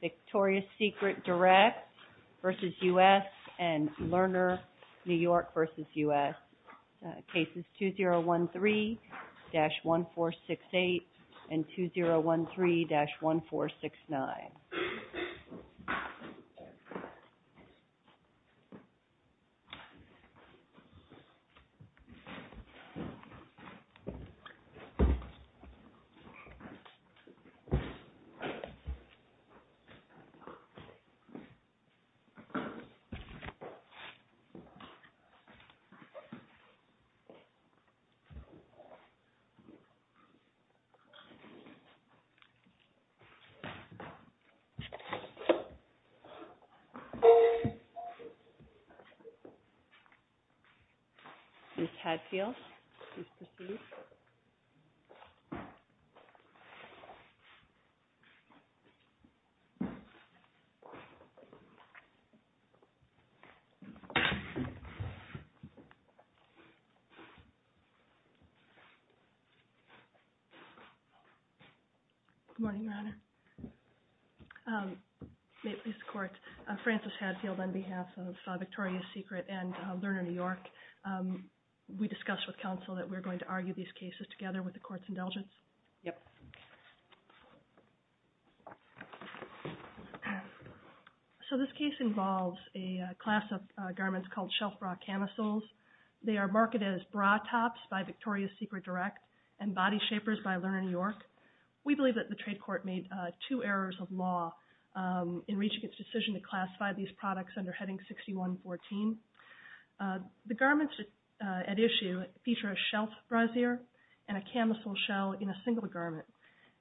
Victoria's Secret Direct v. U.S. and Lerner New York v. U.S., Cases 2013-1468 and 2013-1469. The U.S. Department of Justice has been investigating the murder of a U.S. citizen. The U.S. Department of Justice has been investigating the murder of a U.S. citizen. May it please the Court, I'm Frances Hadfield on behalf of Victoria's Secret and Lerner New York. We discussed with counsel that we're going to argue these cases together with the Court's indulgence. So this case involves a class of garments called shelf bra camisoles. They are marketed as bra tops by Victoria's Secret Direct and body shapers by Lerner New York. We believe that the trade court made two errors of law in reaching its decision to classify these products under Heading 6114. The garments at issue feature a shelf brassiere and a camisole shell in a single garment.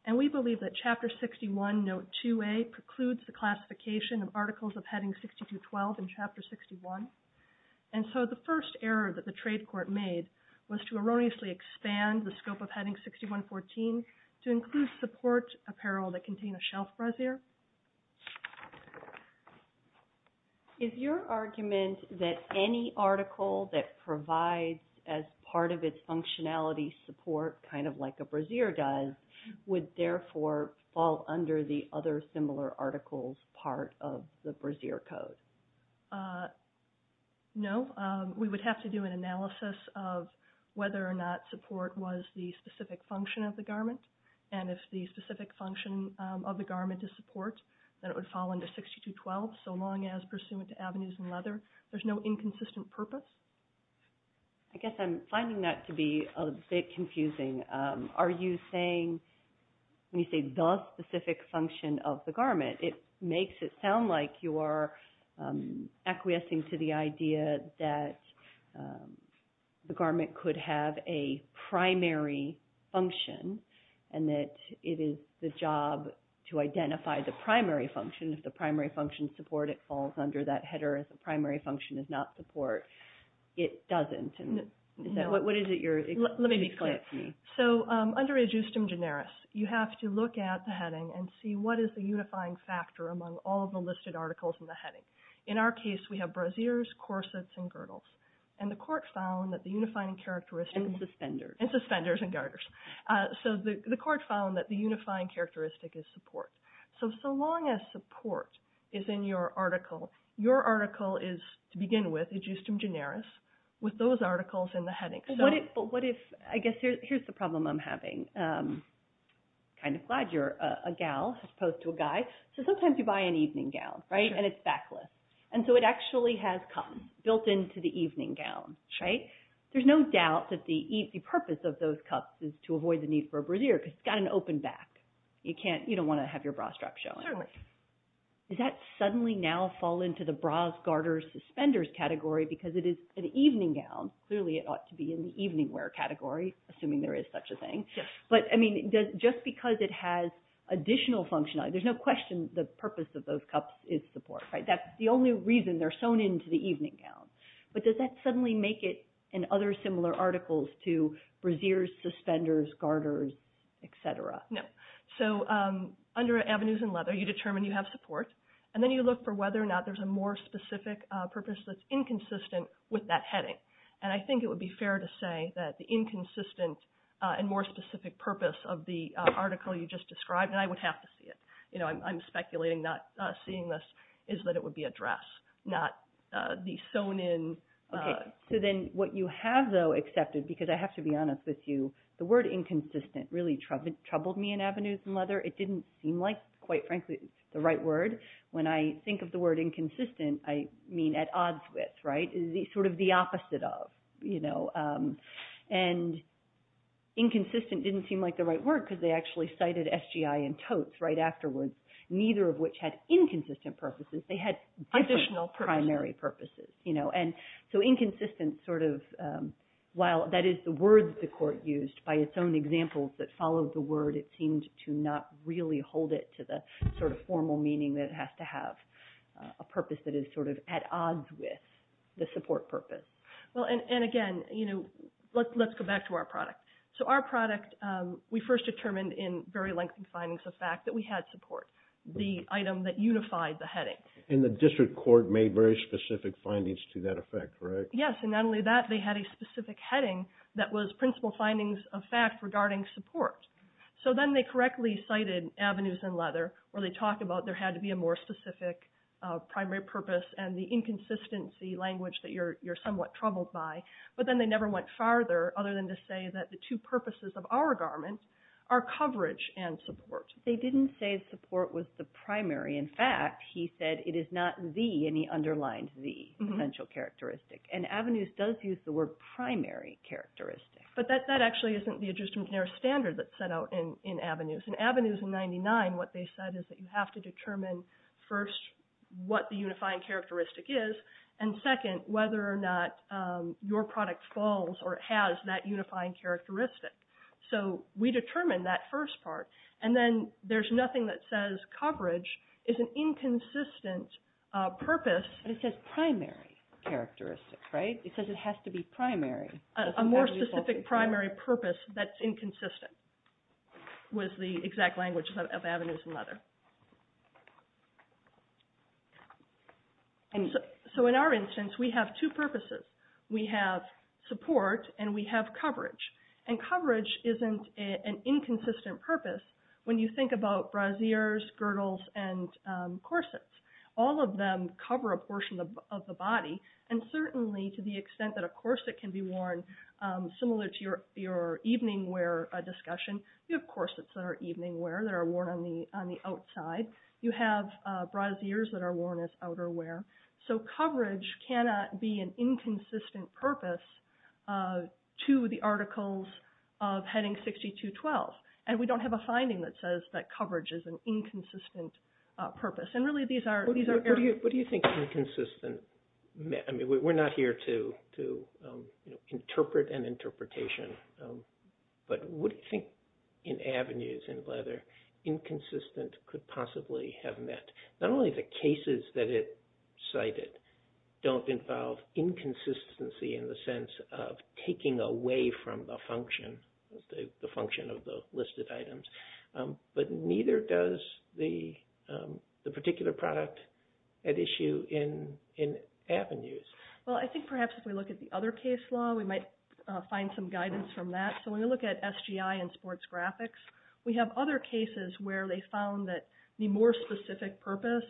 And we believe that Chapter 61, Note 2a precludes the classification of articles of Heading 6212 in Chapter 61. And so the first error that the trade court made was to erroneously expand the scope of Heading 6114 to include support apparel that contain a shelf brassiere. Is your argument that any article that provides as part of its functionality support kind of like a brassiere does would therefore fall under the other similar articles part of the brassiere code? No. We would have to do an analysis of whether or not support was the specific function of the garment. And if the specific function of the garment is support, then it would fall under 6212 so long as pursuant to avenues and leather. There's no inconsistent purpose. I guess I'm finding that to be a bit confusing. Are you saying when you say the specific function of the garment, it makes it sound like you are acquiescing to the idea that the garment could have a primary function and that it is the job to identify the primary function. If the primary function is support, it falls under that header. If the primary function is not support, it doesn't. Let me be clear. Under ad justum generis, you have to look at the heading and see what is the unifying factor among all of the listed articles in the heading. In our case, we have brassieres, corsets, and girdles. And the court found that the unifying characteristic... And suspenders. And suspenders and girders. So the court found that the unifying characteristic is support. So long as support is in your article, your article is, to begin with, ad justum generis, with those articles in the heading. But what if... I guess here's the problem I'm having. I'm kind of glad you're a gal as opposed to a guy. So sometimes you buy an evening gown, right? And it's backless. And so it actually has cuffs built into the evening gown, right? There's no doubt that the purpose of those cuffs is to avoid the need for a brassiere because it's got an open back. You don't want to have your bra strap showing. Certainly. Does that suddenly now fall into the bras, girders, suspenders category because it is an evening gown? Clearly, it ought to be in the evening wear category, assuming there is such a thing. But, I mean, just because it has additional functionality, there's no question the purpose of those cuffs is support, right? That's the only reason they're sewn into the evening gown. But does that suddenly make it in other similar articles to brassieres, suspenders, girders, et cetera? No. So under avenues and leather, you determine you have support. And then you look for whether or not there's a more specific purpose that's inconsistent with that heading. And I think it would be fair to say that the inconsistent and more specific purpose of the article you just described, and I would have to see it, you know, I'm speculating not seeing this, is that it would be a dress, not the sewn in. Okay. So then what you have, though, accepted, because I have to be honest with you, the word inconsistent really troubled me in avenues and leather. It didn't seem like, quite frankly, the right word. When I think of the word inconsistent, I mean at odds with, right? Sort of the opposite of, you know. And inconsistent didn't seem like the right word because they actually cited SGI and totes right afterwards, neither of which had inconsistent purposes. They had different primary purposes, you know. And so inconsistent sort of, while that is the word that the court used by its own examples that followed the word, it seemed to not really hold it to the sort of formal meaning that it has to have, a purpose that is sort of at odds with the support purpose. Well, and again, you know, let's go back to our product. So our product, we first determined in very lengthy findings the fact that we had support, the item that unified the heading. And the district court made very specific findings to that effect, correct? Yes, and not only that, they had a specific heading that was principal findings of fact regarding support. So then they correctly cited avenues and leather where they talk about there had to be a more specific primary purpose and the inconsistency language that you're somewhat troubled by. But then they never went farther other than to say that the two purposes of our garments are coverage and support. They didn't say support was the primary. In fact, he said it is not the, and he underlined the, potential characteristic. And avenues does use the word primary characteristic. But that actually isn't the Adjustment to Narrow Standards that's set out in avenues. In avenues in 99, what they said is that you have to determine first what the unifying characteristic is, and second whether or not your product falls or has that unifying characteristic. So we determined that first part. And then there's nothing that says coverage is an inconsistent purpose. But it says primary characteristic, right? It says it has to be primary. A more specific primary purpose that's inconsistent was the exact language of avenues and leather. So in our instance, we have two purposes. We have support and we have coverage. And coverage isn't an inconsistent purpose when you think about brassiers, girdles, and corsets. All of them cover a portion of the body. And certainly to the extent that a corset can be worn similar to your evening wear discussion, you have corsets that are evening wear that are worn on the outside. You have brassiers that are worn as outerwear. So coverage cannot be an inconsistent purpose to the articles of Heading 6212. And we don't have a finding that says that coverage is an inconsistent purpose. And really these are- What do you think inconsistent- I mean, we're not here to interpret an interpretation, but what do you think in avenues in leather inconsistent could possibly have meant? Not only the cases that it cited don't involve inconsistency in the sense of taking away from the function, the function of the listed items, but neither does the particular product at issue in avenues. Well, I think perhaps if we look at the other case law, we might find some guidance from that. So when you look at SGI and sports graphics, we have other cases where they found that the more specific purpose,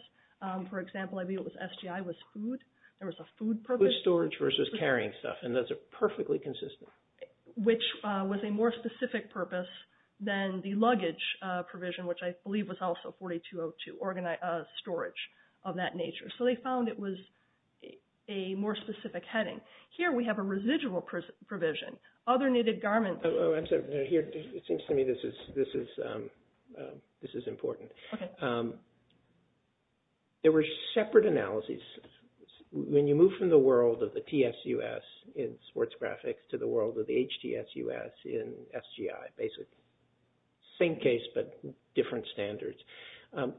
for example, SGI was food. There was a food purpose. Storage versus carrying stuff, and those are perfectly consistent. Which was a more specific purpose than the luggage provision, which I believe was also 4202, storage of that nature. So they found it was a more specific heading. Here we have a residual provision. Other knitted garments- It seems to me this is important. There were separate analyses. When you move from the world of the TSUS in sports graphics to the world of the HTSUS in SGI, basically same case but different standards.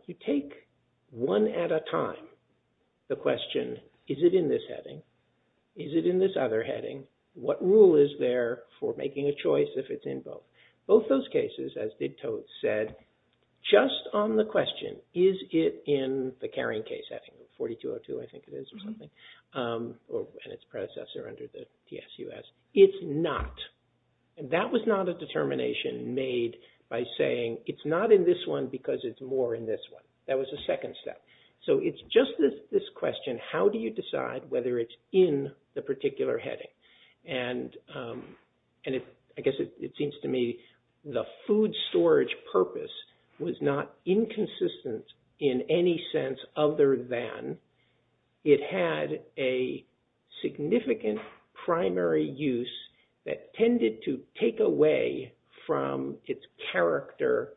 You take one at a time the question, is it in this heading? Is it in this other heading? What rule is there for making a choice if it's in both? Both those cases, as did Toadst said, just on the question, is it in the carrying case heading? 4202 I think it is or something, and its predecessor under the TSUS. It's not, and that was not a determination made by saying it's not in this one because it's more in this one. That was a second step. So it's just this question, how do you decide whether it's in the particular heading? I guess it seems to me the food storage purpose was not inconsistent in any sense other than it had a significant primary use that tended to take away from its character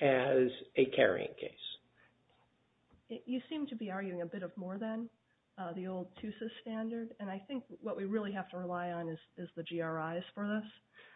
as a carrying case. You seem to be arguing a bit more than the old TSUS standard. And I think what we really have to rely on is the GRIs for this.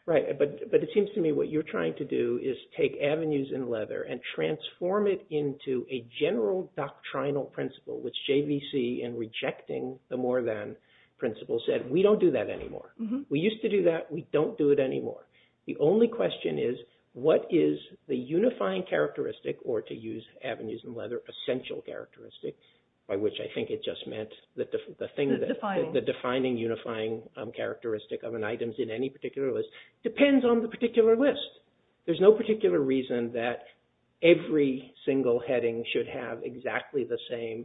Right, but it seems to me what you're trying to do is take avenues in leather and transform it into a general doctrinal principle, which JVC in rejecting the more than principle said, we don't do that anymore. We used to do that. We don't do it anymore. The only question is, what is the unifying characteristic or to use avenues in leather, essential characteristic, by which I think it just meant the defining unifying characteristic of an item in any particular list, depends on the particular list. There's no particular reason that every single heading should have exactly the same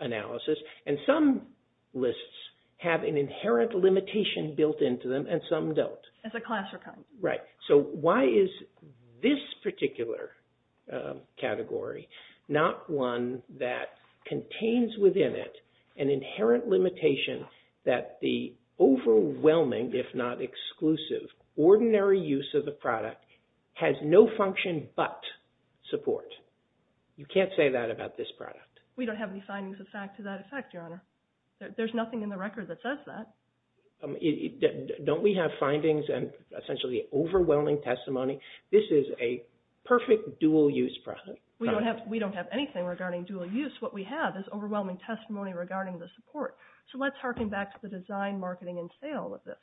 analysis. And some lists have an inherent limitation built into them, and some don't. It's a class for coming. Right. So why is this particular category not one that contains within it an inherent limitation that the overwhelming, if not exclusive, ordinary use of the product has no function but support? You can't say that about this product. We don't have any findings to that effect, Your Honor. There's nothing in the record that says that. Don't we have findings and essentially overwhelming testimony? This is a perfect dual use product. We don't have anything regarding dual use. What we have is overwhelming testimony regarding the support. So let's harken back to the design, marketing, and sale of this.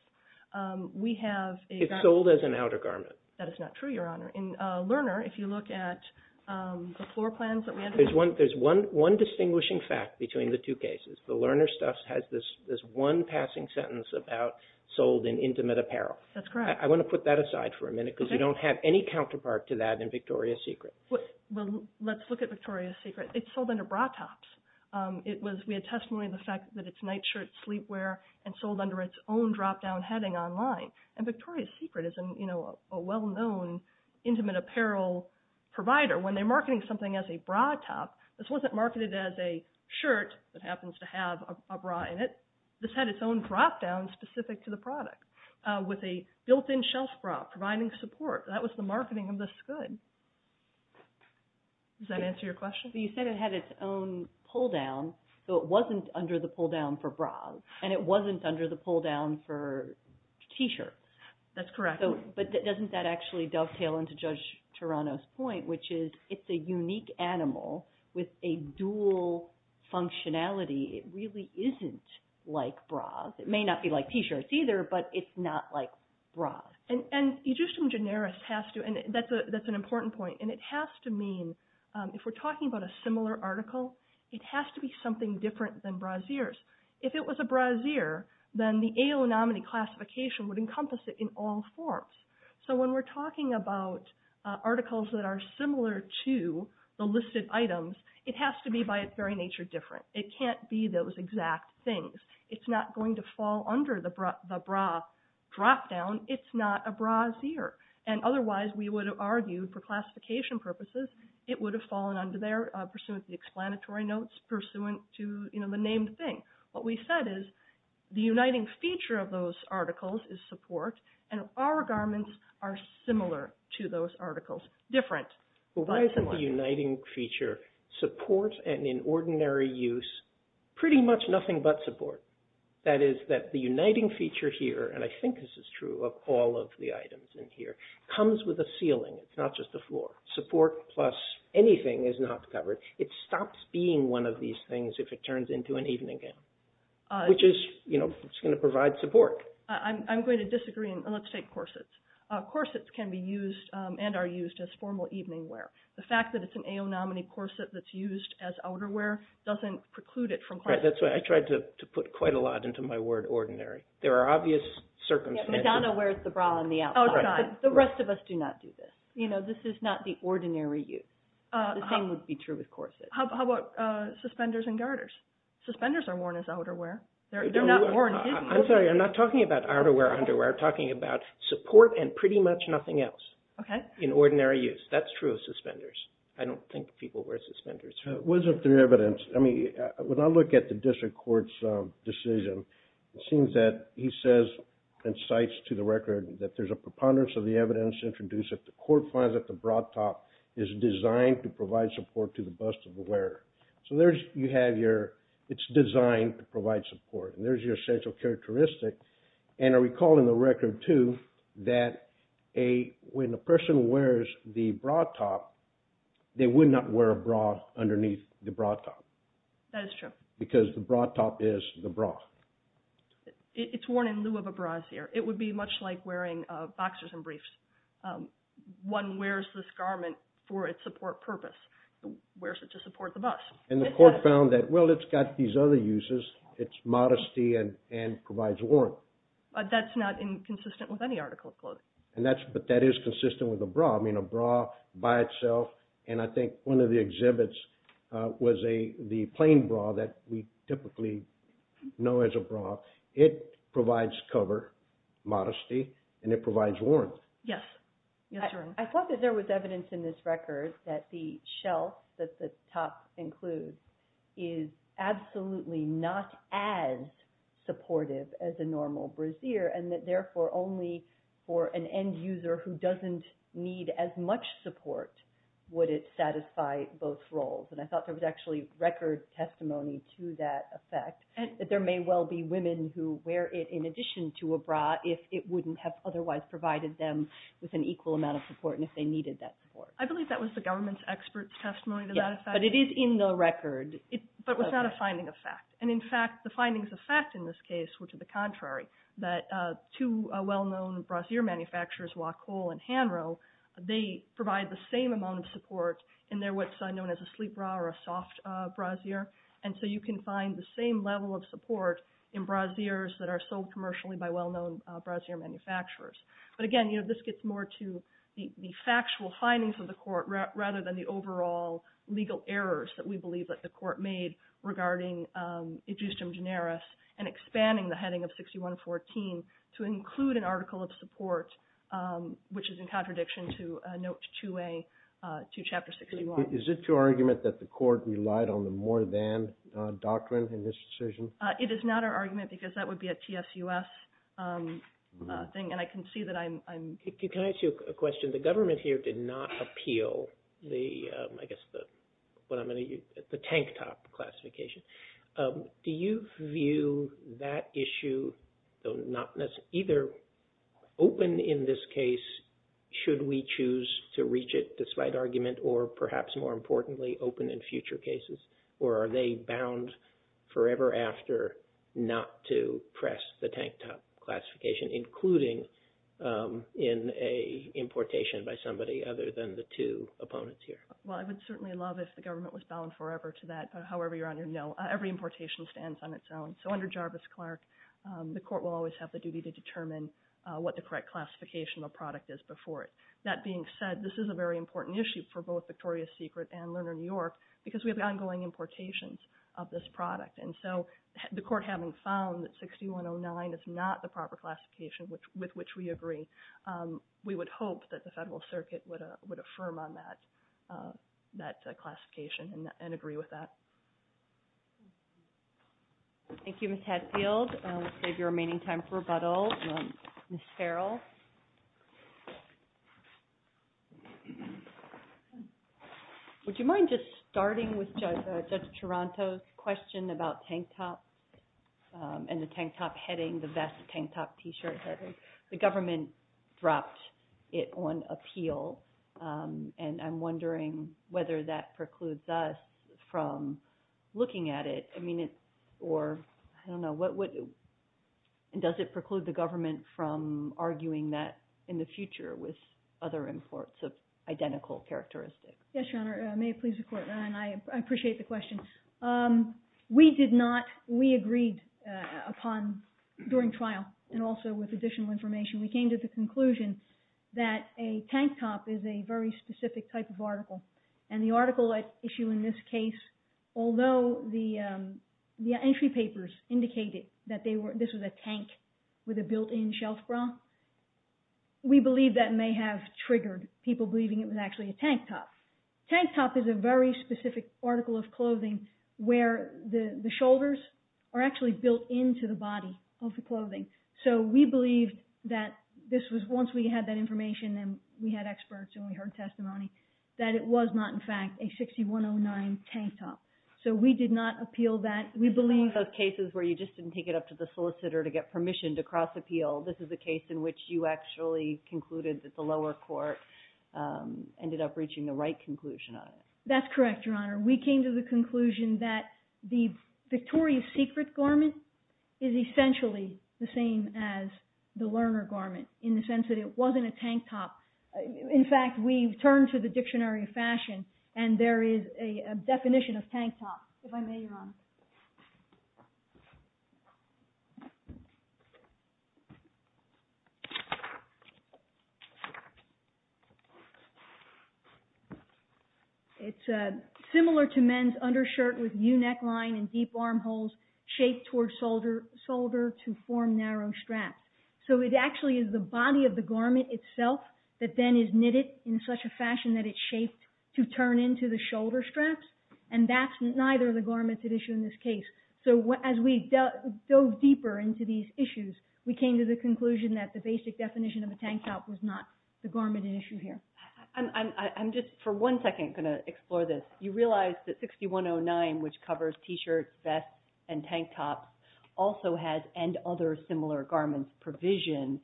We have a garment. It's sold as an outer garment. That is not true, Your Honor. In Lerner, if you look at the floor plans that we have. There's one distinguishing fact between the two cases. The Lerner stuff has this one passing sentence about sold in intimate apparel. That's correct. I want to put that aside for a minute because we don't have any counterpart to that in Victoria's Secret. Well, let's look at Victoria's Secret. It's sold under bra tops. We had testimony of the fact that it's night shirt, sleepwear, and sold under its own drop-down heading online. And Victoria's Secret is a well-known intimate apparel provider. When they're marketing something as a bra top, this wasn't marketed as a shirt that happens to have a bra in it. This had its own drop-down specific to the product with a built-in shelf bra providing support. That was the marketing of this good. Does that answer your question? You said it had its own pull-down, so it wasn't under the pull-down for bras, and it wasn't under the pull-down for T-shirts. That's correct. But doesn't that actually dovetail into Judge Tarano's point, which is it's a unique animal with a dual functionality. It really isn't like bras. It may not be like T-shirts either, but it's not like bras. And that's an important point. And it has to mean, if we're talking about a similar article, it has to be something different than brassieres. If it was a brassiere, then the AO nominee classification would encompass it in all forms. So when we're talking about articles that are similar to the listed items, it has to be by its very nature different. It can't be those exact things. It's not going to fall under the bra drop-down. It's not a brassiere. And otherwise, we would have argued, for classification purposes, it would have fallen under there, pursuant to the explanatory notes, pursuant to the named thing. What we said is the uniting feature of those articles is support, and our garments are similar to those articles. Different. Why isn't the uniting feature support and in ordinary use pretty much nothing but support? That is that the uniting feature here, and I think this is true of all of the items in here, comes with a ceiling. It's not just a floor. Support plus anything is not covered. It stops being one of these things if it turns into an evening gown, which is going to provide support. I'm going to disagree, and let's take corsets. Corsets can be used and are used as formal evening wear. The fact that it's an AO nominee corset that's used as outerwear doesn't preclude it from class. That's right. I tried to put quite a lot into my word ordinary. There are obvious circumstances. Madonna wears the bra on the outside. The rest of us do not do this. This is not the ordinary use. The same would be true with corsets. How about suspenders and garters? Suspenders are worn as outerwear. They're not worn hidden. I'm sorry. I'm not talking about outerwear or underwear. I'm talking about support and pretty much nothing else in ordinary use. That's true of suspenders. I don't think people wear suspenders. It wasn't through evidence. I mean, when I look at the district court's decision, it seems that he says and cites to the record that there's a preponderance of the evidence introduced that the court finds that the bra top is designed to provide support to the bust of the wearer. So there you have your it's designed to provide support. And there's your essential characteristic. And I recall in the record, too, that when a person wears the bra top, they would not wear a bra underneath the bra top. That is true. Because the bra top is the bra. It's worn in lieu of a bra here. It would be much like wearing boxers and briefs. One wears this garment for its support purpose, wears it to support the bust. And the court found that, well, it's got these other uses. It's modesty and provides warmth. But that's not consistent with any article of clothing. But that is consistent with a bra. I mean, a bra by itself. And I think one of the exhibits was the plain bra that we typically know as a bra. It provides cover, modesty, and it provides warmth. Yes. I thought that there was evidence in this record that the shelf that the top includes is absolutely not as supportive as a normal brassiere. And that, therefore, only for an end user who doesn't need as much support would it satisfy both roles. And I thought there was actually record testimony to that effect. There may well be women who wear it in addition to a bra if it wouldn't have otherwise provided them with an equal amount of support and if they needed that support. I believe that was the government's expert testimony to that effect. But it is in the record. But it was not a finding of fact. And, in fact, the findings of fact in this case were to the contrary. That two well-known brassiere manufacturers, Wacol and Hanro, they provide the same amount of support in their what's known as a sleep bra or a soft brassiere. And so you can find the same level of support in brassieres that are sold commercially by well-known brassiere manufacturers. But, again, you know, this gets more to the factual findings of the court rather than the overall legal errors that we believe that the court made regarding edustem generis and expanding the heading of 6114 to include an article of support, which is in contradiction to note 2A, 2 Chapter 61. Is it your argument that the court relied on the more than doctrine in this decision? It is not our argument because that would be a TSUS thing. And I can see that I'm… Can I ask you a question? The government here did not appeal the, I guess, what I'm going to use, the tank top classification. Do you view that issue, either open in this case should we choose to reach it despite argument or, perhaps more importantly, open in future cases? Or are they bound forever after not to press the tank top classification, including in an importation by somebody other than the two opponents here? Well, I would certainly love if the government was bound forever to that, however you're on your note. Every importation stands on its own. So under Jarvis-Clark, the court will always have the duty to determine what the correct classification of a product is before it. That being said, this is a very important issue for both Victoria's Secret and Lerner New York because we have ongoing importations of this product. And so the court having found that 6109 is not the proper classification with which we agree, we would hope that the Federal Circuit would affirm on that classification and agree with that. Thank you, Ms. Hadfield. We'll save your remaining time for rebuttal. Ms. Farrell? Would you mind just starting with Judge Taranto's question about tank top and the tank top heading, the vest tank top t-shirt heading? The government dropped it on appeal, and I'm wondering whether that precludes us from looking at it. I don't know. Does it preclude the government from arguing that in the future with other imports of identical characteristics? Yes, Your Honor. May it please the court. I appreciate the question. We agreed upon during trial and also with additional information. We came to the conclusion that a tank top is a very specific type of article. And the article issue in this case, although the entry papers indicated that this was a tank with a built-in shelf bra, we believe that may have triggered people believing it was actually a tank top. Tank top is a very specific article of clothing where the shoulders are actually built into the body of the clothing. So we believed that this was, once we had that information and we had experts and we heard testimony, that it was not, in fact, a 6109 tank top. So we did not appeal that. We believe… In all those cases where you just didn't take it up to the solicitor to get permission to cross-appeal, this is a case in which you actually concluded that the lower court ended up reaching the right conclusion on it. That's correct, Your Honor. We came to the conclusion that the Victoria's Secret garment is essentially the same as the Lerner garment in the sense that it wasn't a tank top. In fact, we turned to the Dictionary of Fashion and there is a definition of tank top. If I may, Your Honor. It's similar to men's undershirt with U-neckline and deep armholes shaped toward shoulder to form narrow straps. So it actually is the body of the garment itself that then is knitted in such a fashion that it's shaped to turn into the shoulder straps and that's neither of the garments at issue in this case. So as we dove deeper into these issues, we came to the conclusion that the basic definition of a tank top was not the garment at issue here. I'm just for one second going to explore this. You realize that 6109, which covers t-shirts, vests, and tank tops, also has and other similar garments provision.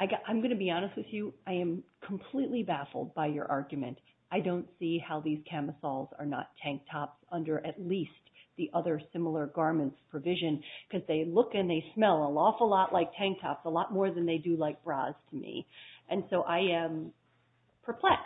I'm going to be honest with you. I am completely baffled by your argument. I don't see how these camisoles are not tank tops under at least the other similar garments provision because they look and they smell an awful lot like tank tops, a lot more than they do like bras to me. And so I am perplexed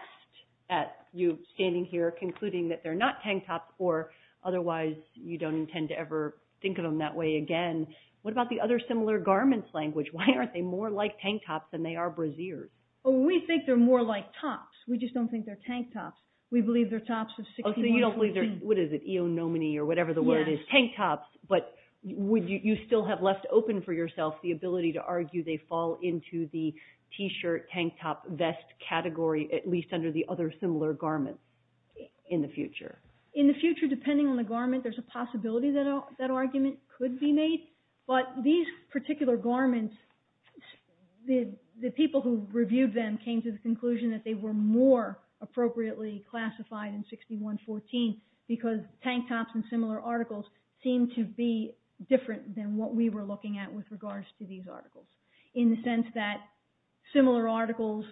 at you standing here concluding that they're not tank tops or otherwise you don't intend to ever think of them that way again. What about the other similar garments language? Why aren't they more like tank tops than they are brasiers? We think they're more like tops. We just don't think they're tank tops. We believe they're tops of 6109. What is it? Eonomony or whatever the word is. Tank tops. But you still have left open for yourself the ability to argue they fall into the t-shirt, tank top, vest category at least under the other similar garments in the future. In the future, depending on the garment, there's a possibility that that argument could be made. But these particular garments, the people who reviewed them came to the conclusion that they were more appropriately classified in 6114 because tank tops and similar articles seem to be different than what we were looking at with regards to these articles. In the sense that similar articles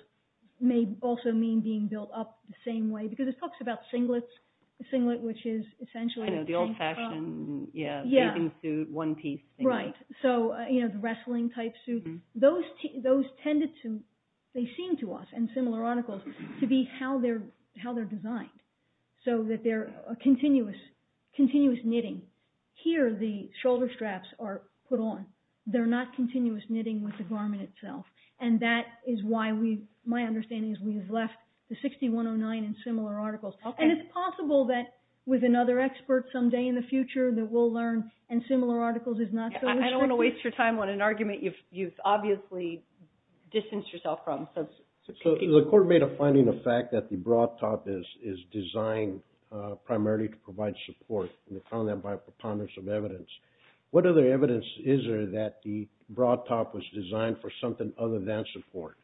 may also mean being built up the same way. Because it talks about singlets, a singlet which is essentially a tank top. Yeah. One piece. Right. So the wrestling type suit. Those tended to, they seem to us in similar articles, to be how they're designed. So that they're a continuous knitting. Here the shoulder straps are put on. They're not continuous knitting with the garment itself. And that is why my understanding is we have left the 6109 in similar articles. And it's possible that with another expert some day in the future that we'll learn and similar articles is not so restrictive. I don't want to waste your time on an argument you've obviously distanced yourself from. So the court made a finding of fact that the bra top is designed primarily to provide support. And they found that by preponderance of evidence. What other evidence is there that the bra top was designed for something other than support?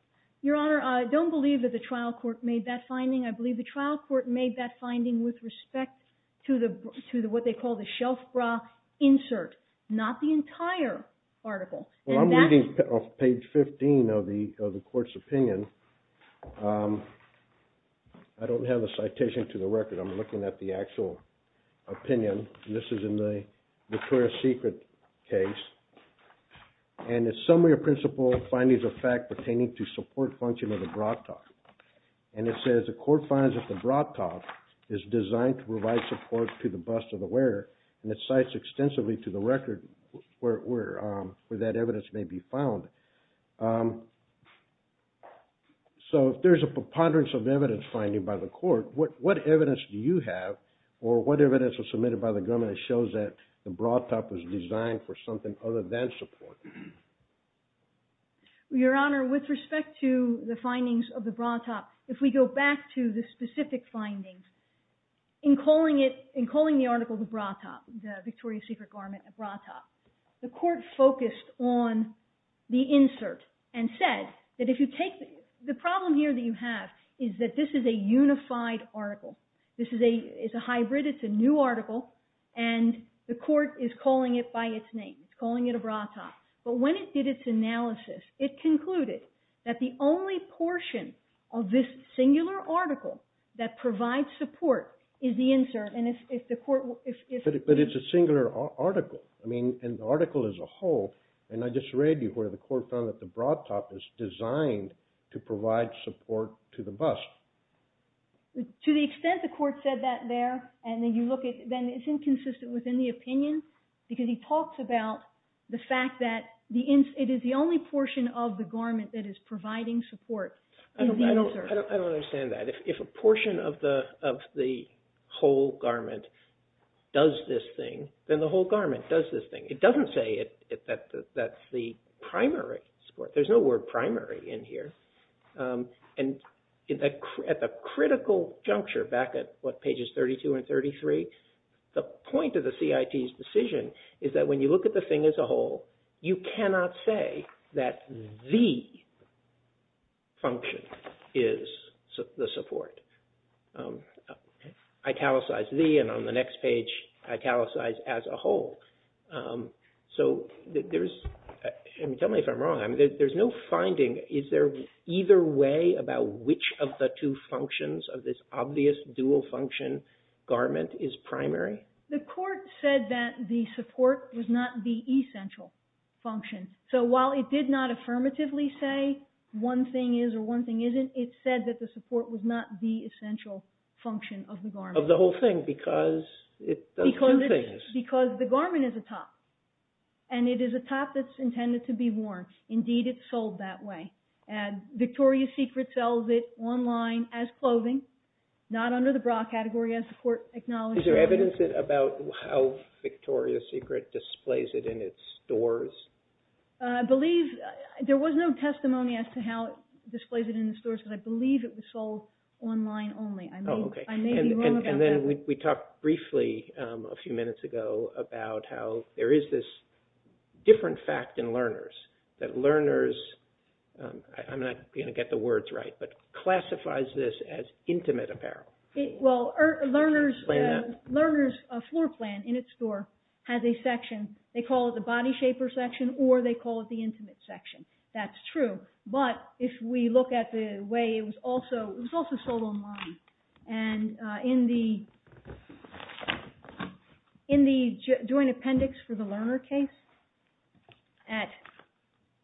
Your Honor, I don't believe that the trial court made that finding. I believe the trial court made that finding with respect to what they call the shelf bra insert. Not the entire article. Well, I'm reading page 15 of the court's opinion. I don't have a citation to the record. I'm looking at the actual opinion. And this is in the Victoria's Secret case. And it's summary of principle findings of fact pertaining to support function of the bra top. And it says the court finds that the bra top is designed to provide support to the bust of the wearer. And it cites extensively to the record where that evidence may be found. So if there's a preponderance of evidence finding by the court, what evidence do you have? Or what evidence was submitted by the government that shows that the bra top was designed for something other than support? Your Honor, with respect to the findings of the bra top, if we go back to the specific findings, in calling the article the bra top, the Victoria's Secret garment a bra top, the court focused on the insert and said that if you take the problem here that you have is that this is a unified article. This is a hybrid. It's a new article. And the court is calling it by its name. It's calling it a bra top. But when it did its analysis, it concluded that the only portion of this singular article that provides support is the insert. But it's a singular article. I mean, an article as a whole. And I just read you where the court found that the bra top is designed to provide support to the bust. To the extent the court said that there, and then you look at it, because he talks about the fact that it is the only portion of the garment that is providing support is the insert. I don't understand that. If a portion of the whole garment does this thing, then the whole garment does this thing. It doesn't say that that's the primary support. There's no word primary in here. And at the critical juncture, back at what, pages 32 and 33, the point of the CIT's decision is that when you look at the thing as a whole, you cannot say that the function is the support. Italicize the, and on the next page, italicize as a whole. So there is, and tell me if I'm wrong, there's no finding, is there either way about which of the two functions of this obvious dual function garment is primary? The court said that the support was not the essential function. So while it did not affirmatively say one thing is or one thing isn't, it said that the support was not the essential function of the garment. Of the whole thing, because it does two things. Because the garment is a top. And it is a top that's intended to be worn. Indeed, it's sold that way. And Victoria's Secret sells it online as clothing. Not under the bra category, as the court acknowledged. Is there evidence about how Victoria's Secret displays it in its stores? I believe there was no testimony as to how it displays it in the stores, because I believe it was sold online only. I may be wrong about that. And then we talked briefly a few minutes ago about how there is this different fact in Lerner's, that Lerner's, I'm not going to get the words right, but classifies this as intimate apparel. Well, Lerner's floor plan in its store has a section, they call it the body shaper section or they call it the intimate section. That's true. But if we look at the way it was also sold online. And in the joint appendix for the Lerner case at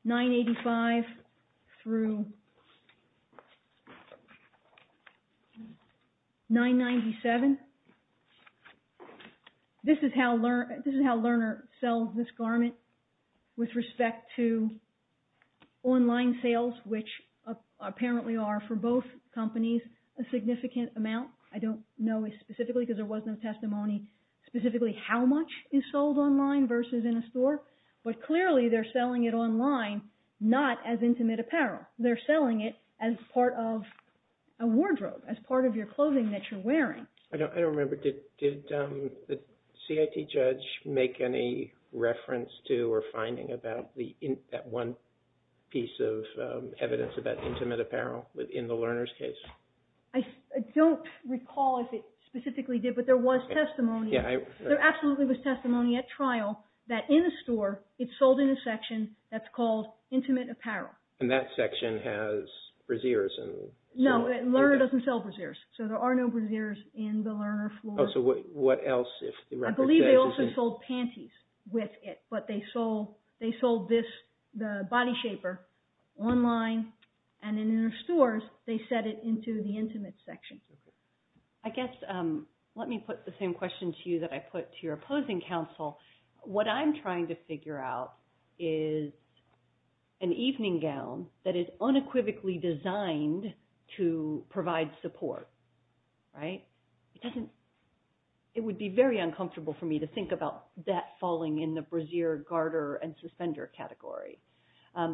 985 through 997, this is how Lerner sells this garment with respect to online sales, which apparently are for both companies a significant amount. I don't know specifically because there was no testimony specifically how much is sold online versus in a store, but clearly they're selling it online not as intimate apparel. They're selling it as part of a wardrobe, as part of your clothing that you're wearing. I don't remember. Did the CIT judge make any reference to or finding about that one piece of evidence about intimate apparel in the Lerner's case? I don't recall if it specifically did, but there was testimony. There absolutely was testimony at trial that in a store it's sold in a section that's called intimate apparel. And that section has brassieres. No, Lerner doesn't sell brassieres. So there are no brassieres in the Lerner floor. So what else? I believe they also sold panties with it, but they sold the body shaper online. And in their stores, they set it into the intimate section. I guess let me put the same question to you that I put to your opposing counsel. What I'm trying to figure out is an evening gown that is unequivocally designed to provide support, right? It would be very uncomfortable for me to think about that falling in the brassiere, garter, and suspender category.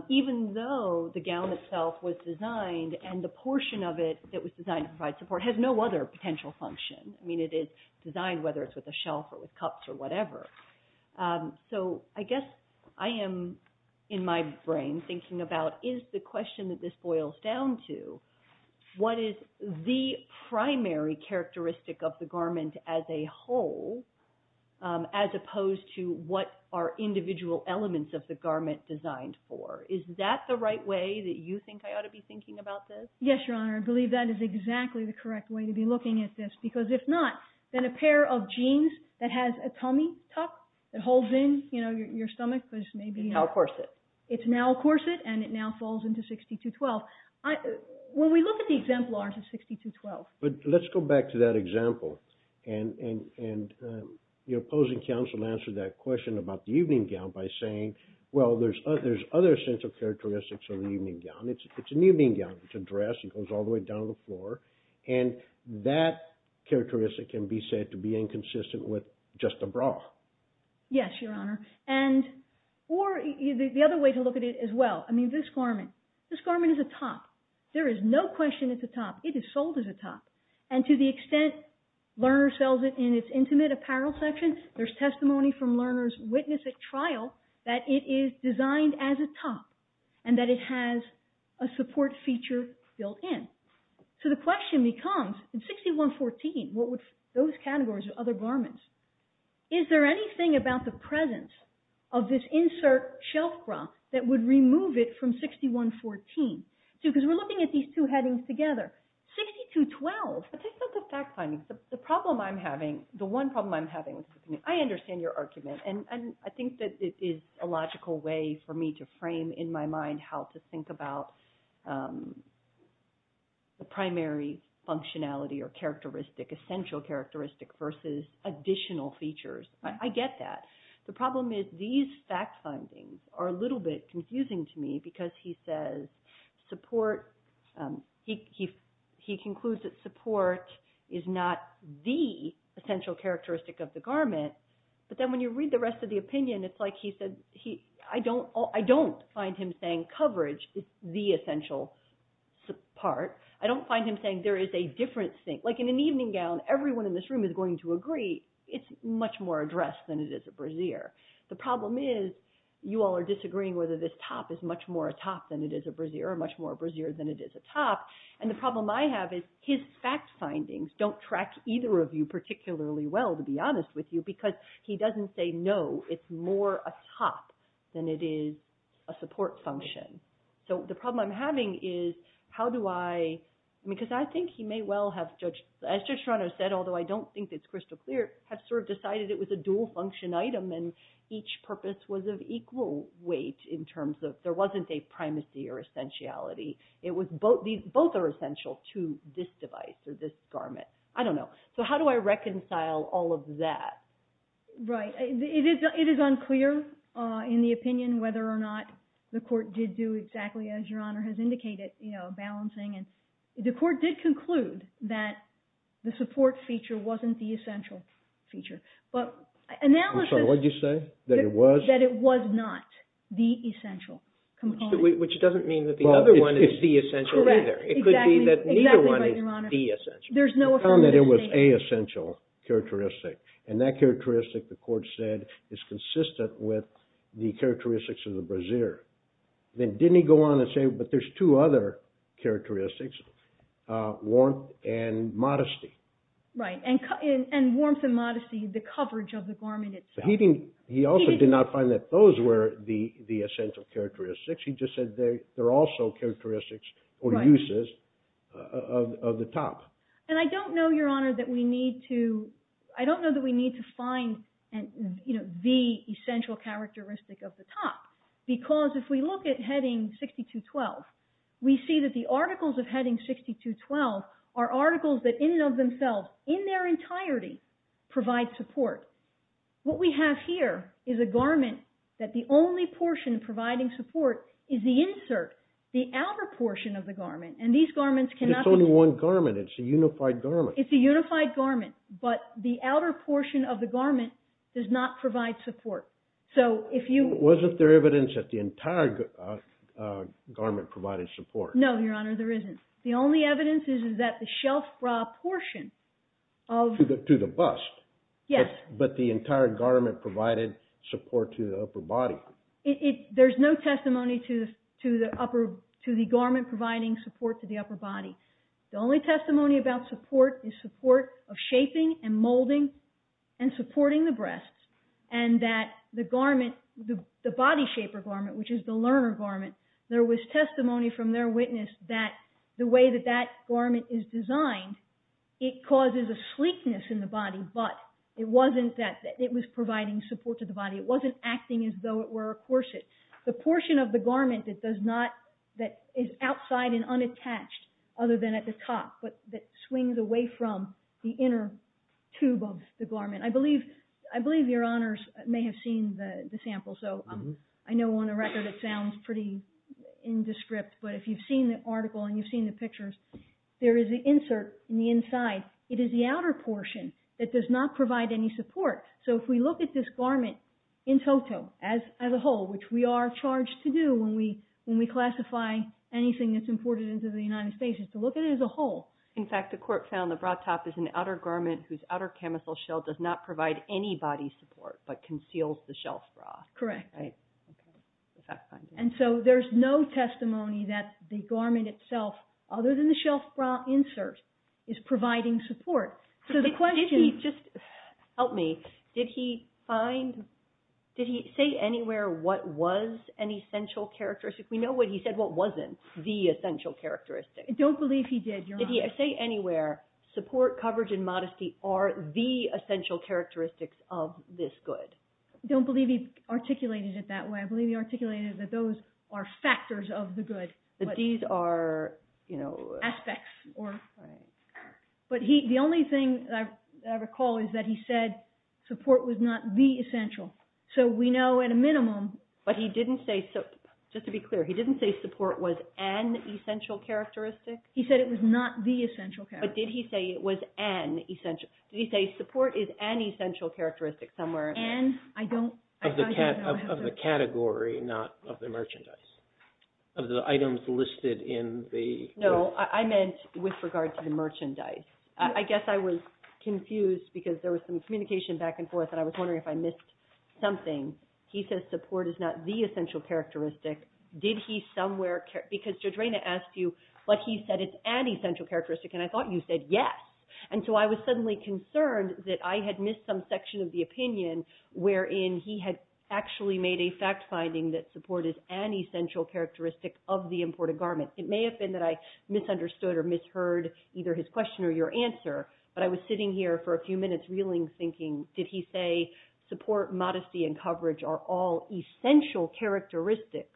Even though the gown itself was designed and the portion of it that was designed to provide support has no other potential function. I mean, it is designed whether it's with a shelf or with cups or whatever. So I guess I am in my brain thinking about is the question that this boils down to, what is the primary characteristic of the garment as a whole, as opposed to what are individual elements of the garment designed for? Is that the right way that you think I ought to be thinking about this? Yes, Your Honor. I believe that is exactly the correct way to be looking at this. Because if not, then a pair of jeans that has a tummy tuck that holds in your stomach, which may be… It's now a corset. It's now a corset, and it now falls into 6212. When we look at the exemplars of 6212… But let's go back to that example. And your opposing counsel answered that question about the evening gown by saying, well, there's other essential characteristics of the evening gown. It's an evening gown. It's a dress. It goes all the way down to the floor. And that characteristic can be said to be inconsistent with just a bra. Yes, Your Honor. Or the other way to look at it as well. I mean, this garment, this garment is a top. There is no question it's a top. It is sold as a top. And to the extent Lerner sells it in its intimate apparel section, there's testimony from Lerner's witness at trial that it is designed as a top and that it has a support feature built in. So the question becomes, in 6114, what would those categories of other garments… Is there anything about the presence of this insert shelf bra that would remove it from 6114? Because we're looking at these two headings together. 6212… The problem I'm having, the one problem I'm having, I understand your argument. And I think that it is a logical way for me to frame in my mind how to think about the primary functionality or characteristic, essential characteristic versus additional features. I get that. The problem is these fact findings are a little bit confusing to me because he says support. He concludes that support is not the essential characteristic of the garment. But then when you read the rest of the opinion, it's like he said, I don't find him saying coverage is the essential part. I don't find him saying there is a different thing. Like in an evening gown, everyone in this room is going to agree it's much more a dress than it is a brassiere. The problem is you all are disagreeing whether this top is much more a top than it is a brassiere or much more a brassiere than it is a top. And the problem I have is his fact findings don't track either of you particularly well, to be honest with you, because he doesn't say no, it's more a top than it is a support function. So the problem I'm having is how do I… Because I think he may well have, as Judge Serrano said, although I don't think it's crystal clear, have sort of decided it was a dual function item and each purpose was of equal weight in terms of there wasn't a primacy or essentiality. Both are essential to this device or this garment. I don't know. So how do I reconcile all of that? Right. It is unclear in the opinion whether or not the court did do exactly as Your Honor has indicated, balancing. The court did conclude that the support feature wasn't the essential feature. But analysis… I'm sorry, what did you say? That it was? That it was not the essential component. Which doesn't mean that the other one is the essential either. Correct. It could be that neither one is the essential. There's no affirmative statement. He found that it was a essential characteristic. And that characteristic, the court said, is consistent with the characteristics of the brassiere. Then didn't he go on and say, but there's two other characteristics, warmth and modesty. Right. And warmth and modesty, the coverage of the garment itself. He also did not find that those were the essential characteristics. He just said they're also characteristics or uses of the top. And I don't know, Your Honor, that we need to find the essential characteristic of the top. Because if we look at Heading 6212, we see that the articles of Heading 6212 are articles that in and of themselves, in their entirety, provide support. What we have here is a garment that the only portion providing support is the insert, the outer portion of the garment. And these garments cannot… It's only one garment. It's a unified garment. It's a unified garment. But the outer portion of the garment does not provide support. So if you… Wasn't there evidence that the entire garment provided support? No, Your Honor, there isn't. The only evidence is that the shelf bra portion of… To the bust. Yes. But the entire garment provided support to the upper body. There's no testimony to the garment providing support to the upper body. The only testimony about support is support of shaping and molding and supporting the breasts. And that the garment, the body shaper garment, which is the learner garment, there was testimony from their witness that the way that that garment is designed, it causes a sleekness in the body, but it wasn't that it was providing support to the body. It wasn't acting as though it were a corset. The portion of the garment that is outside and unattached, other than at the top, I believe Your Honors may have seen the sample. So I know on the record it sounds pretty indescript, but if you've seen the article and you've seen the pictures, there is an insert in the inside. It is the outer portion that does not provide any support. So if we look at this garment in toto, as a whole, which we are charged to do when we classify anything that's imported into the United States, is to look at it as a whole. In fact, the court found the bra top is an outer garment whose outer camisole shell does not provide any body support, but conceals the shelf bra. Correct. And so there's no testimony that the garment itself, other than the shelf bra insert, is providing support. Help me. Did he say anywhere what was an essential characteristic? We know he said what wasn't the essential characteristic. I don't believe he did, Your Honors. Did he say anywhere, support, coverage, and modesty are the essential characteristics of this good? I don't believe he articulated it that way. I believe he articulated that those are factors of the good. But these are, you know. Aspects. Right. But the only thing I recall is that he said support was not the essential. So we know at a minimum. But he didn't say, just to be clear, he didn't say support was an essential characteristic? He said it was not the essential characteristic. But did he say it was an essential? Did he say support is an essential characteristic somewhere? An, I don't. Of the category, not of the merchandise. Of the items listed in the. No, I meant with regard to the merchandise. I guess I was confused because there was some communication back and forth, and I was wondering if I missed something. He said support is not the essential characteristic. Did he somewhere, because Judge Rayna asked you, but he said it's an essential characteristic, and I thought you said yes. And so I was suddenly concerned that I had missed some section of the opinion wherein he had actually made a fact finding that support is an essential characteristic of the imported garment. It may have been that I misunderstood or misheard either his question or your answer, but I was sitting here for a few minutes reeling, thinking, did he say support, modesty, and coverage are all essential characteristics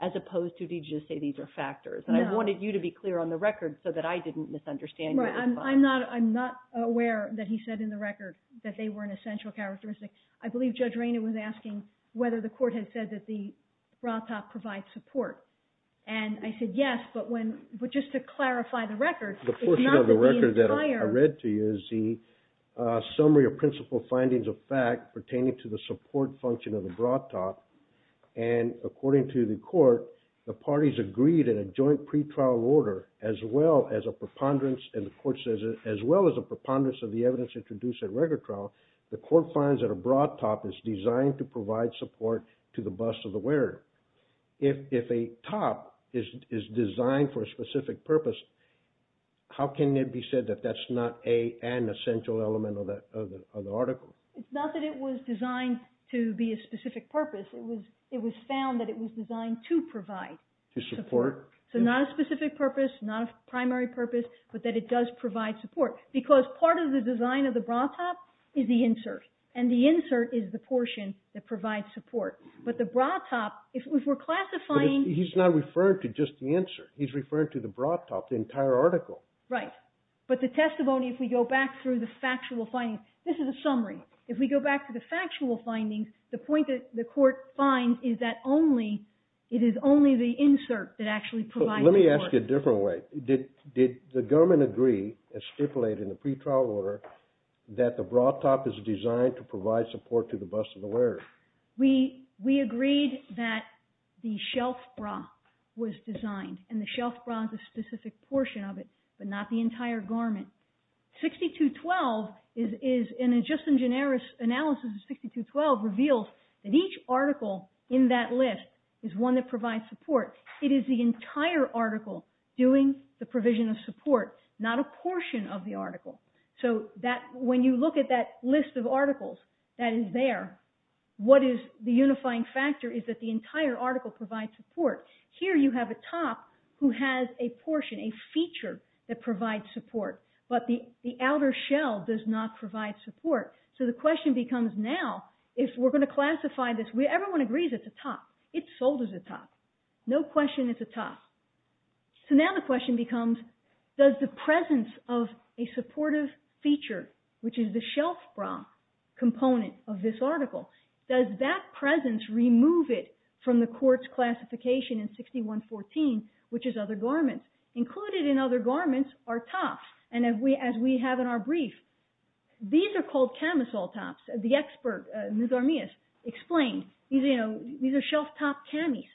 as opposed to did you just say these are factors? And I wanted you to be clear on the record so that I didn't misunderstand you. I'm not aware that he said in the record that they were an essential characteristic. I believe Judge Rayna was asking whether the court had said that the RATA provides support. And I said yes, but just to clarify the record. The portion of the record that I read to you is the summary of principal findings of fact pertaining to the support function of the broad top. And according to the court, the parties agreed in a joint pretrial order as well as a preponderance, and the court says as well as a preponderance of the evidence introduced at record trial, the court finds that a broad top is designed to provide support to the bust of the wearer. If a top is designed for a specific purpose, how can it be said that that's not an essential element of the article? It's not that it was designed to be a specific purpose. It was found that it was designed to provide. To support. So not a specific purpose, not a primary purpose, but that it does provide support. Because part of the design of the broad top is the insert, and the insert is the portion that provides support. But the broad top, if we're classifying. He's not referring to just the insert. He's referring to the broad top, the entire article. Right. But the testimony, if we go back through the factual findings, this is a summary. If we go back to the factual findings, the point that the court finds is that only, it is only the insert that actually provides support. Let me ask you a different way. Did the government agree, as stipulated in the pretrial order, that the broad top is designed to provide support to the bust of the wearer? We agreed that the shelf bra was designed, and the shelf bra is a specific portion of it, but not the entire garment. 6212 is, in a just and generous analysis of 6212, reveals that each article in that list is one that provides support. It is the entire article doing the provision of support, not a portion of the article. So when you look at that list of articles that is there, what is the unifying factor is that the entire article provides support. Here you have a top who has a portion, a feature, that provides support. But the outer shell does not provide support. So the question becomes now, if we're going to classify this, everyone agrees it's a top. It's sold as a top. No question it's a top. So now the question becomes, does the presence of a supportive feature, which is the shelf bra component of this article, does that presence remove it from the court's classification in 6114, which is other garments? Included in other garments are tops, as we have in our brief. These are called camisole tops. The expert, Ms. Armias, explained these are shelf top camis.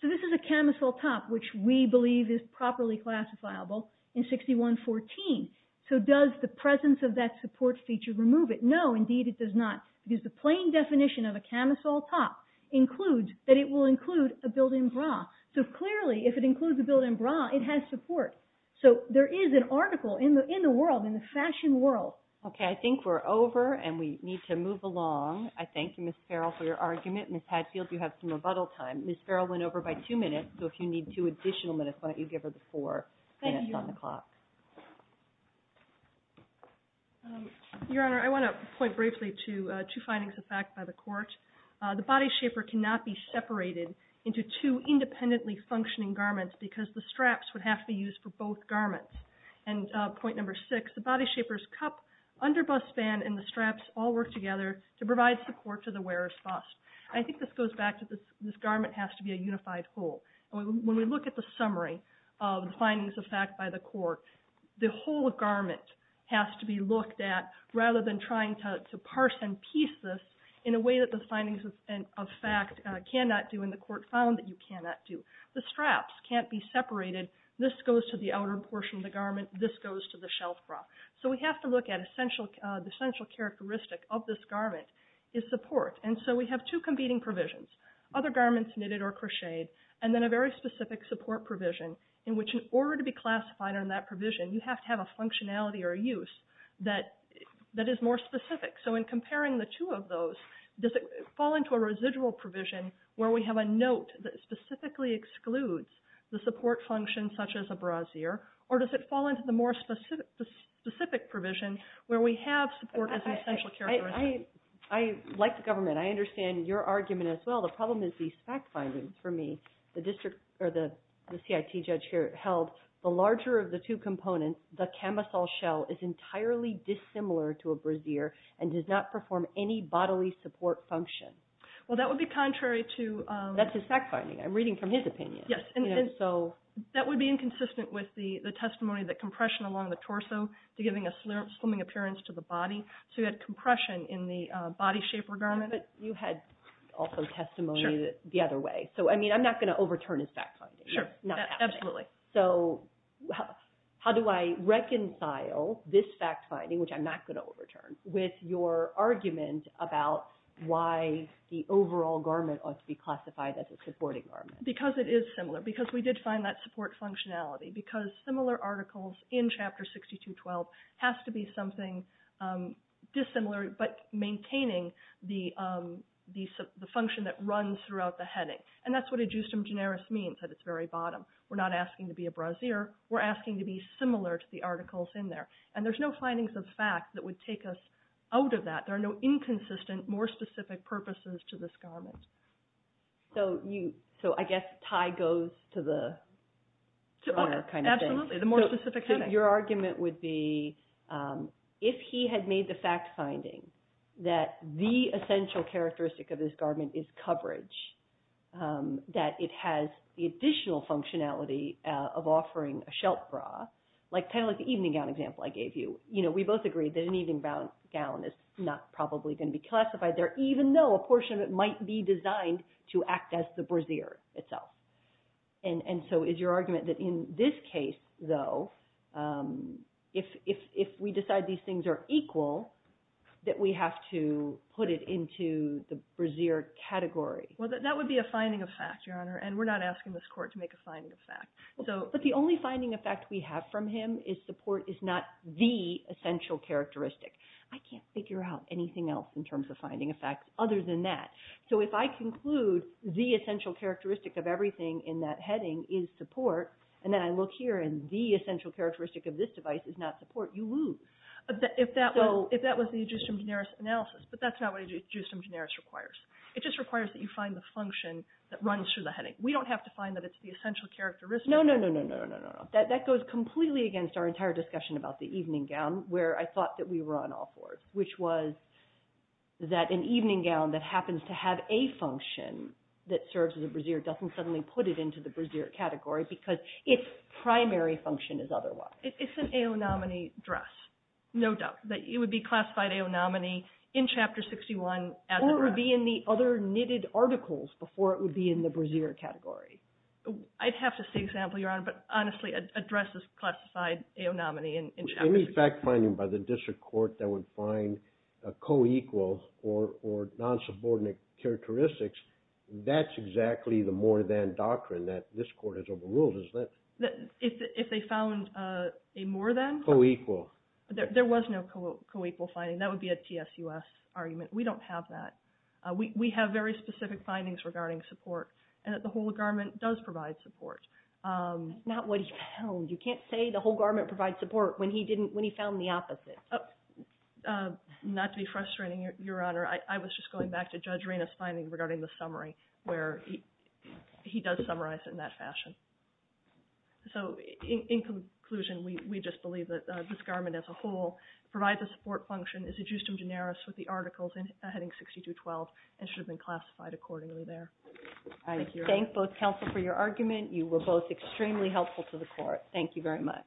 So this is a camisole top, which we believe is properly classifiable in 6114. So does the presence of that support feature remove it? No, indeed it does not, because the plain definition of a camisole top includes that it will include a built-in bra. So clearly, if it includes a built-in bra, it has support. So there is an article in the world, in the fashion world. Okay, I think we're over and we need to move along. I thank you, Ms. Farrell, for your argument. Ms. Hadfield, you have some rebuttal time. Ms. Farrell went over by two minutes, so if you need two additional minutes, why don't you give her the four minutes on the clock. Thank you. Your Honor, I want to point briefly to two findings of fact by the court. The body shaper cannot be separated into two independently functioning garments because the straps would have to be used for both garments. And point number six, the body shaper's cup, underbust band, and the straps all work together to provide support to the wearer's bust. I think this goes back to this garment has to be a unified whole. When we look at the summary of the findings of fact by the court, the whole garment has to be looked at, rather than trying to parse and piece this in a way that the findings of fact cannot do, and the court found that you cannot do. The straps can't be separated. This goes to the outer portion of the garment. This goes to the shelf bra. So we have to look at the central characteristic of this garment is support. And so we have two competing provisions, other garments knitted or crocheted, and then a very specific support provision, in which in order to be classified on that provision, you have to have a functionality or a use that is more specific. So in comparing the two of those, does it fall into a residual provision where we have a note that specifically excludes the support function, such as a brassiere, or does it fall into the more specific provision where we have support as an essential characteristic? I like the government. I understand your argument as well. The problem is these fact findings for me. The CIT judge here held the larger of the two components, the camisole shell is entirely dissimilar to a brassiere and does not perform any bodily support function. Well, that would be contrary to... That's his fact finding. I'm reading from his opinion. That would be inconsistent with the testimony that compression along the torso is giving a slimming appearance to the body. So you had compression in the body shape of the garment. But you had also testimony the other way. So I'm not going to overturn his fact finding. Sure. Absolutely. So how do I reconcile this fact finding, which I'm not going to overturn, with your argument about why the overall garment ought to be classified as a supporting garment? Because it is similar. Because we did find that support functionality. Because similar articles in Chapter 6212 has to be something dissimilar, but maintaining the function that runs throughout the heading. And that's what a justum generis means at its very bottom. We're not asking to be a brassiere. We're asking to be similar to the articles in there. And there's no findings of fact that would take us out of that. There are no inconsistent, more specific purposes to this garment. So I guess Ty goes to the runner kind of thing. Absolutely. The more specific heading. So your argument would be if he had made the fact finding that the essential characteristic of this garment is coverage, that it has the additional functionality of offering a shelf bra, kind of like the evening gown example I gave you. We both agree that an evening gown is not probably going to be classified there, even though a portion of it might be designed to act as the brassiere itself. And so is your argument that in this case, though, if we decide these things are equal, that we have to put it into the brassiere category? Well, that would be a finding of fact, Your Honor. And we're not asking this court to make a finding of fact. But the only finding of fact we have from him is support is not the essential characteristic. I can't figure out anything else in terms of finding of fact other than that. So if I conclude the essential characteristic of everything in that heading is support, and then I look here and the essential characteristic of this device is not support, you lose. If that was the Adjustum Generis analysis, but that's not what Adjustum Generis requires. It just requires that you find the function that runs through the heading. We don't have to find that it's the essential characteristic. No, no, no, no, no, no, no. That goes completely against our entire discussion about the evening gown, where I thought that we were on all fours, which was that an evening gown that happens to have a function that serves as a brassiere doesn't suddenly put it into the brassiere category because its primary function is otherwise. It's an AO nominee dress, no doubt. It would be classified AO nominee in Chapter 61 as a brassiere. It would be in the other knitted articles before it would be in the brassiere category. I'd have to see an example, Your Honor, but honestly, a dress is classified AO nominee in Chapter 61. Any fact finding by the district court that would find a co-equal or non-subordinate characteristics, that's exactly the more than doctrine that this court has overruled, isn't it? If they found a more than? Co-equal. There was no co-equal finding. That would be a TSUS argument. We don't have that. We have very specific findings regarding support, and that the whole garment does provide support. Not what he found. You can't say the whole garment provides support when he found the opposite. Not to be frustrating, Your Honor. I was just going back to Judge Reina's finding regarding the summary, where he does summarize it in that fashion. In conclusion, we just believe that this garment as a whole provides a support function, is a justum generis with the articles heading 62-12, and should have been classified accordingly there. I thank both counsel for your argument. You were both extremely helpful to the court. Thank you very much.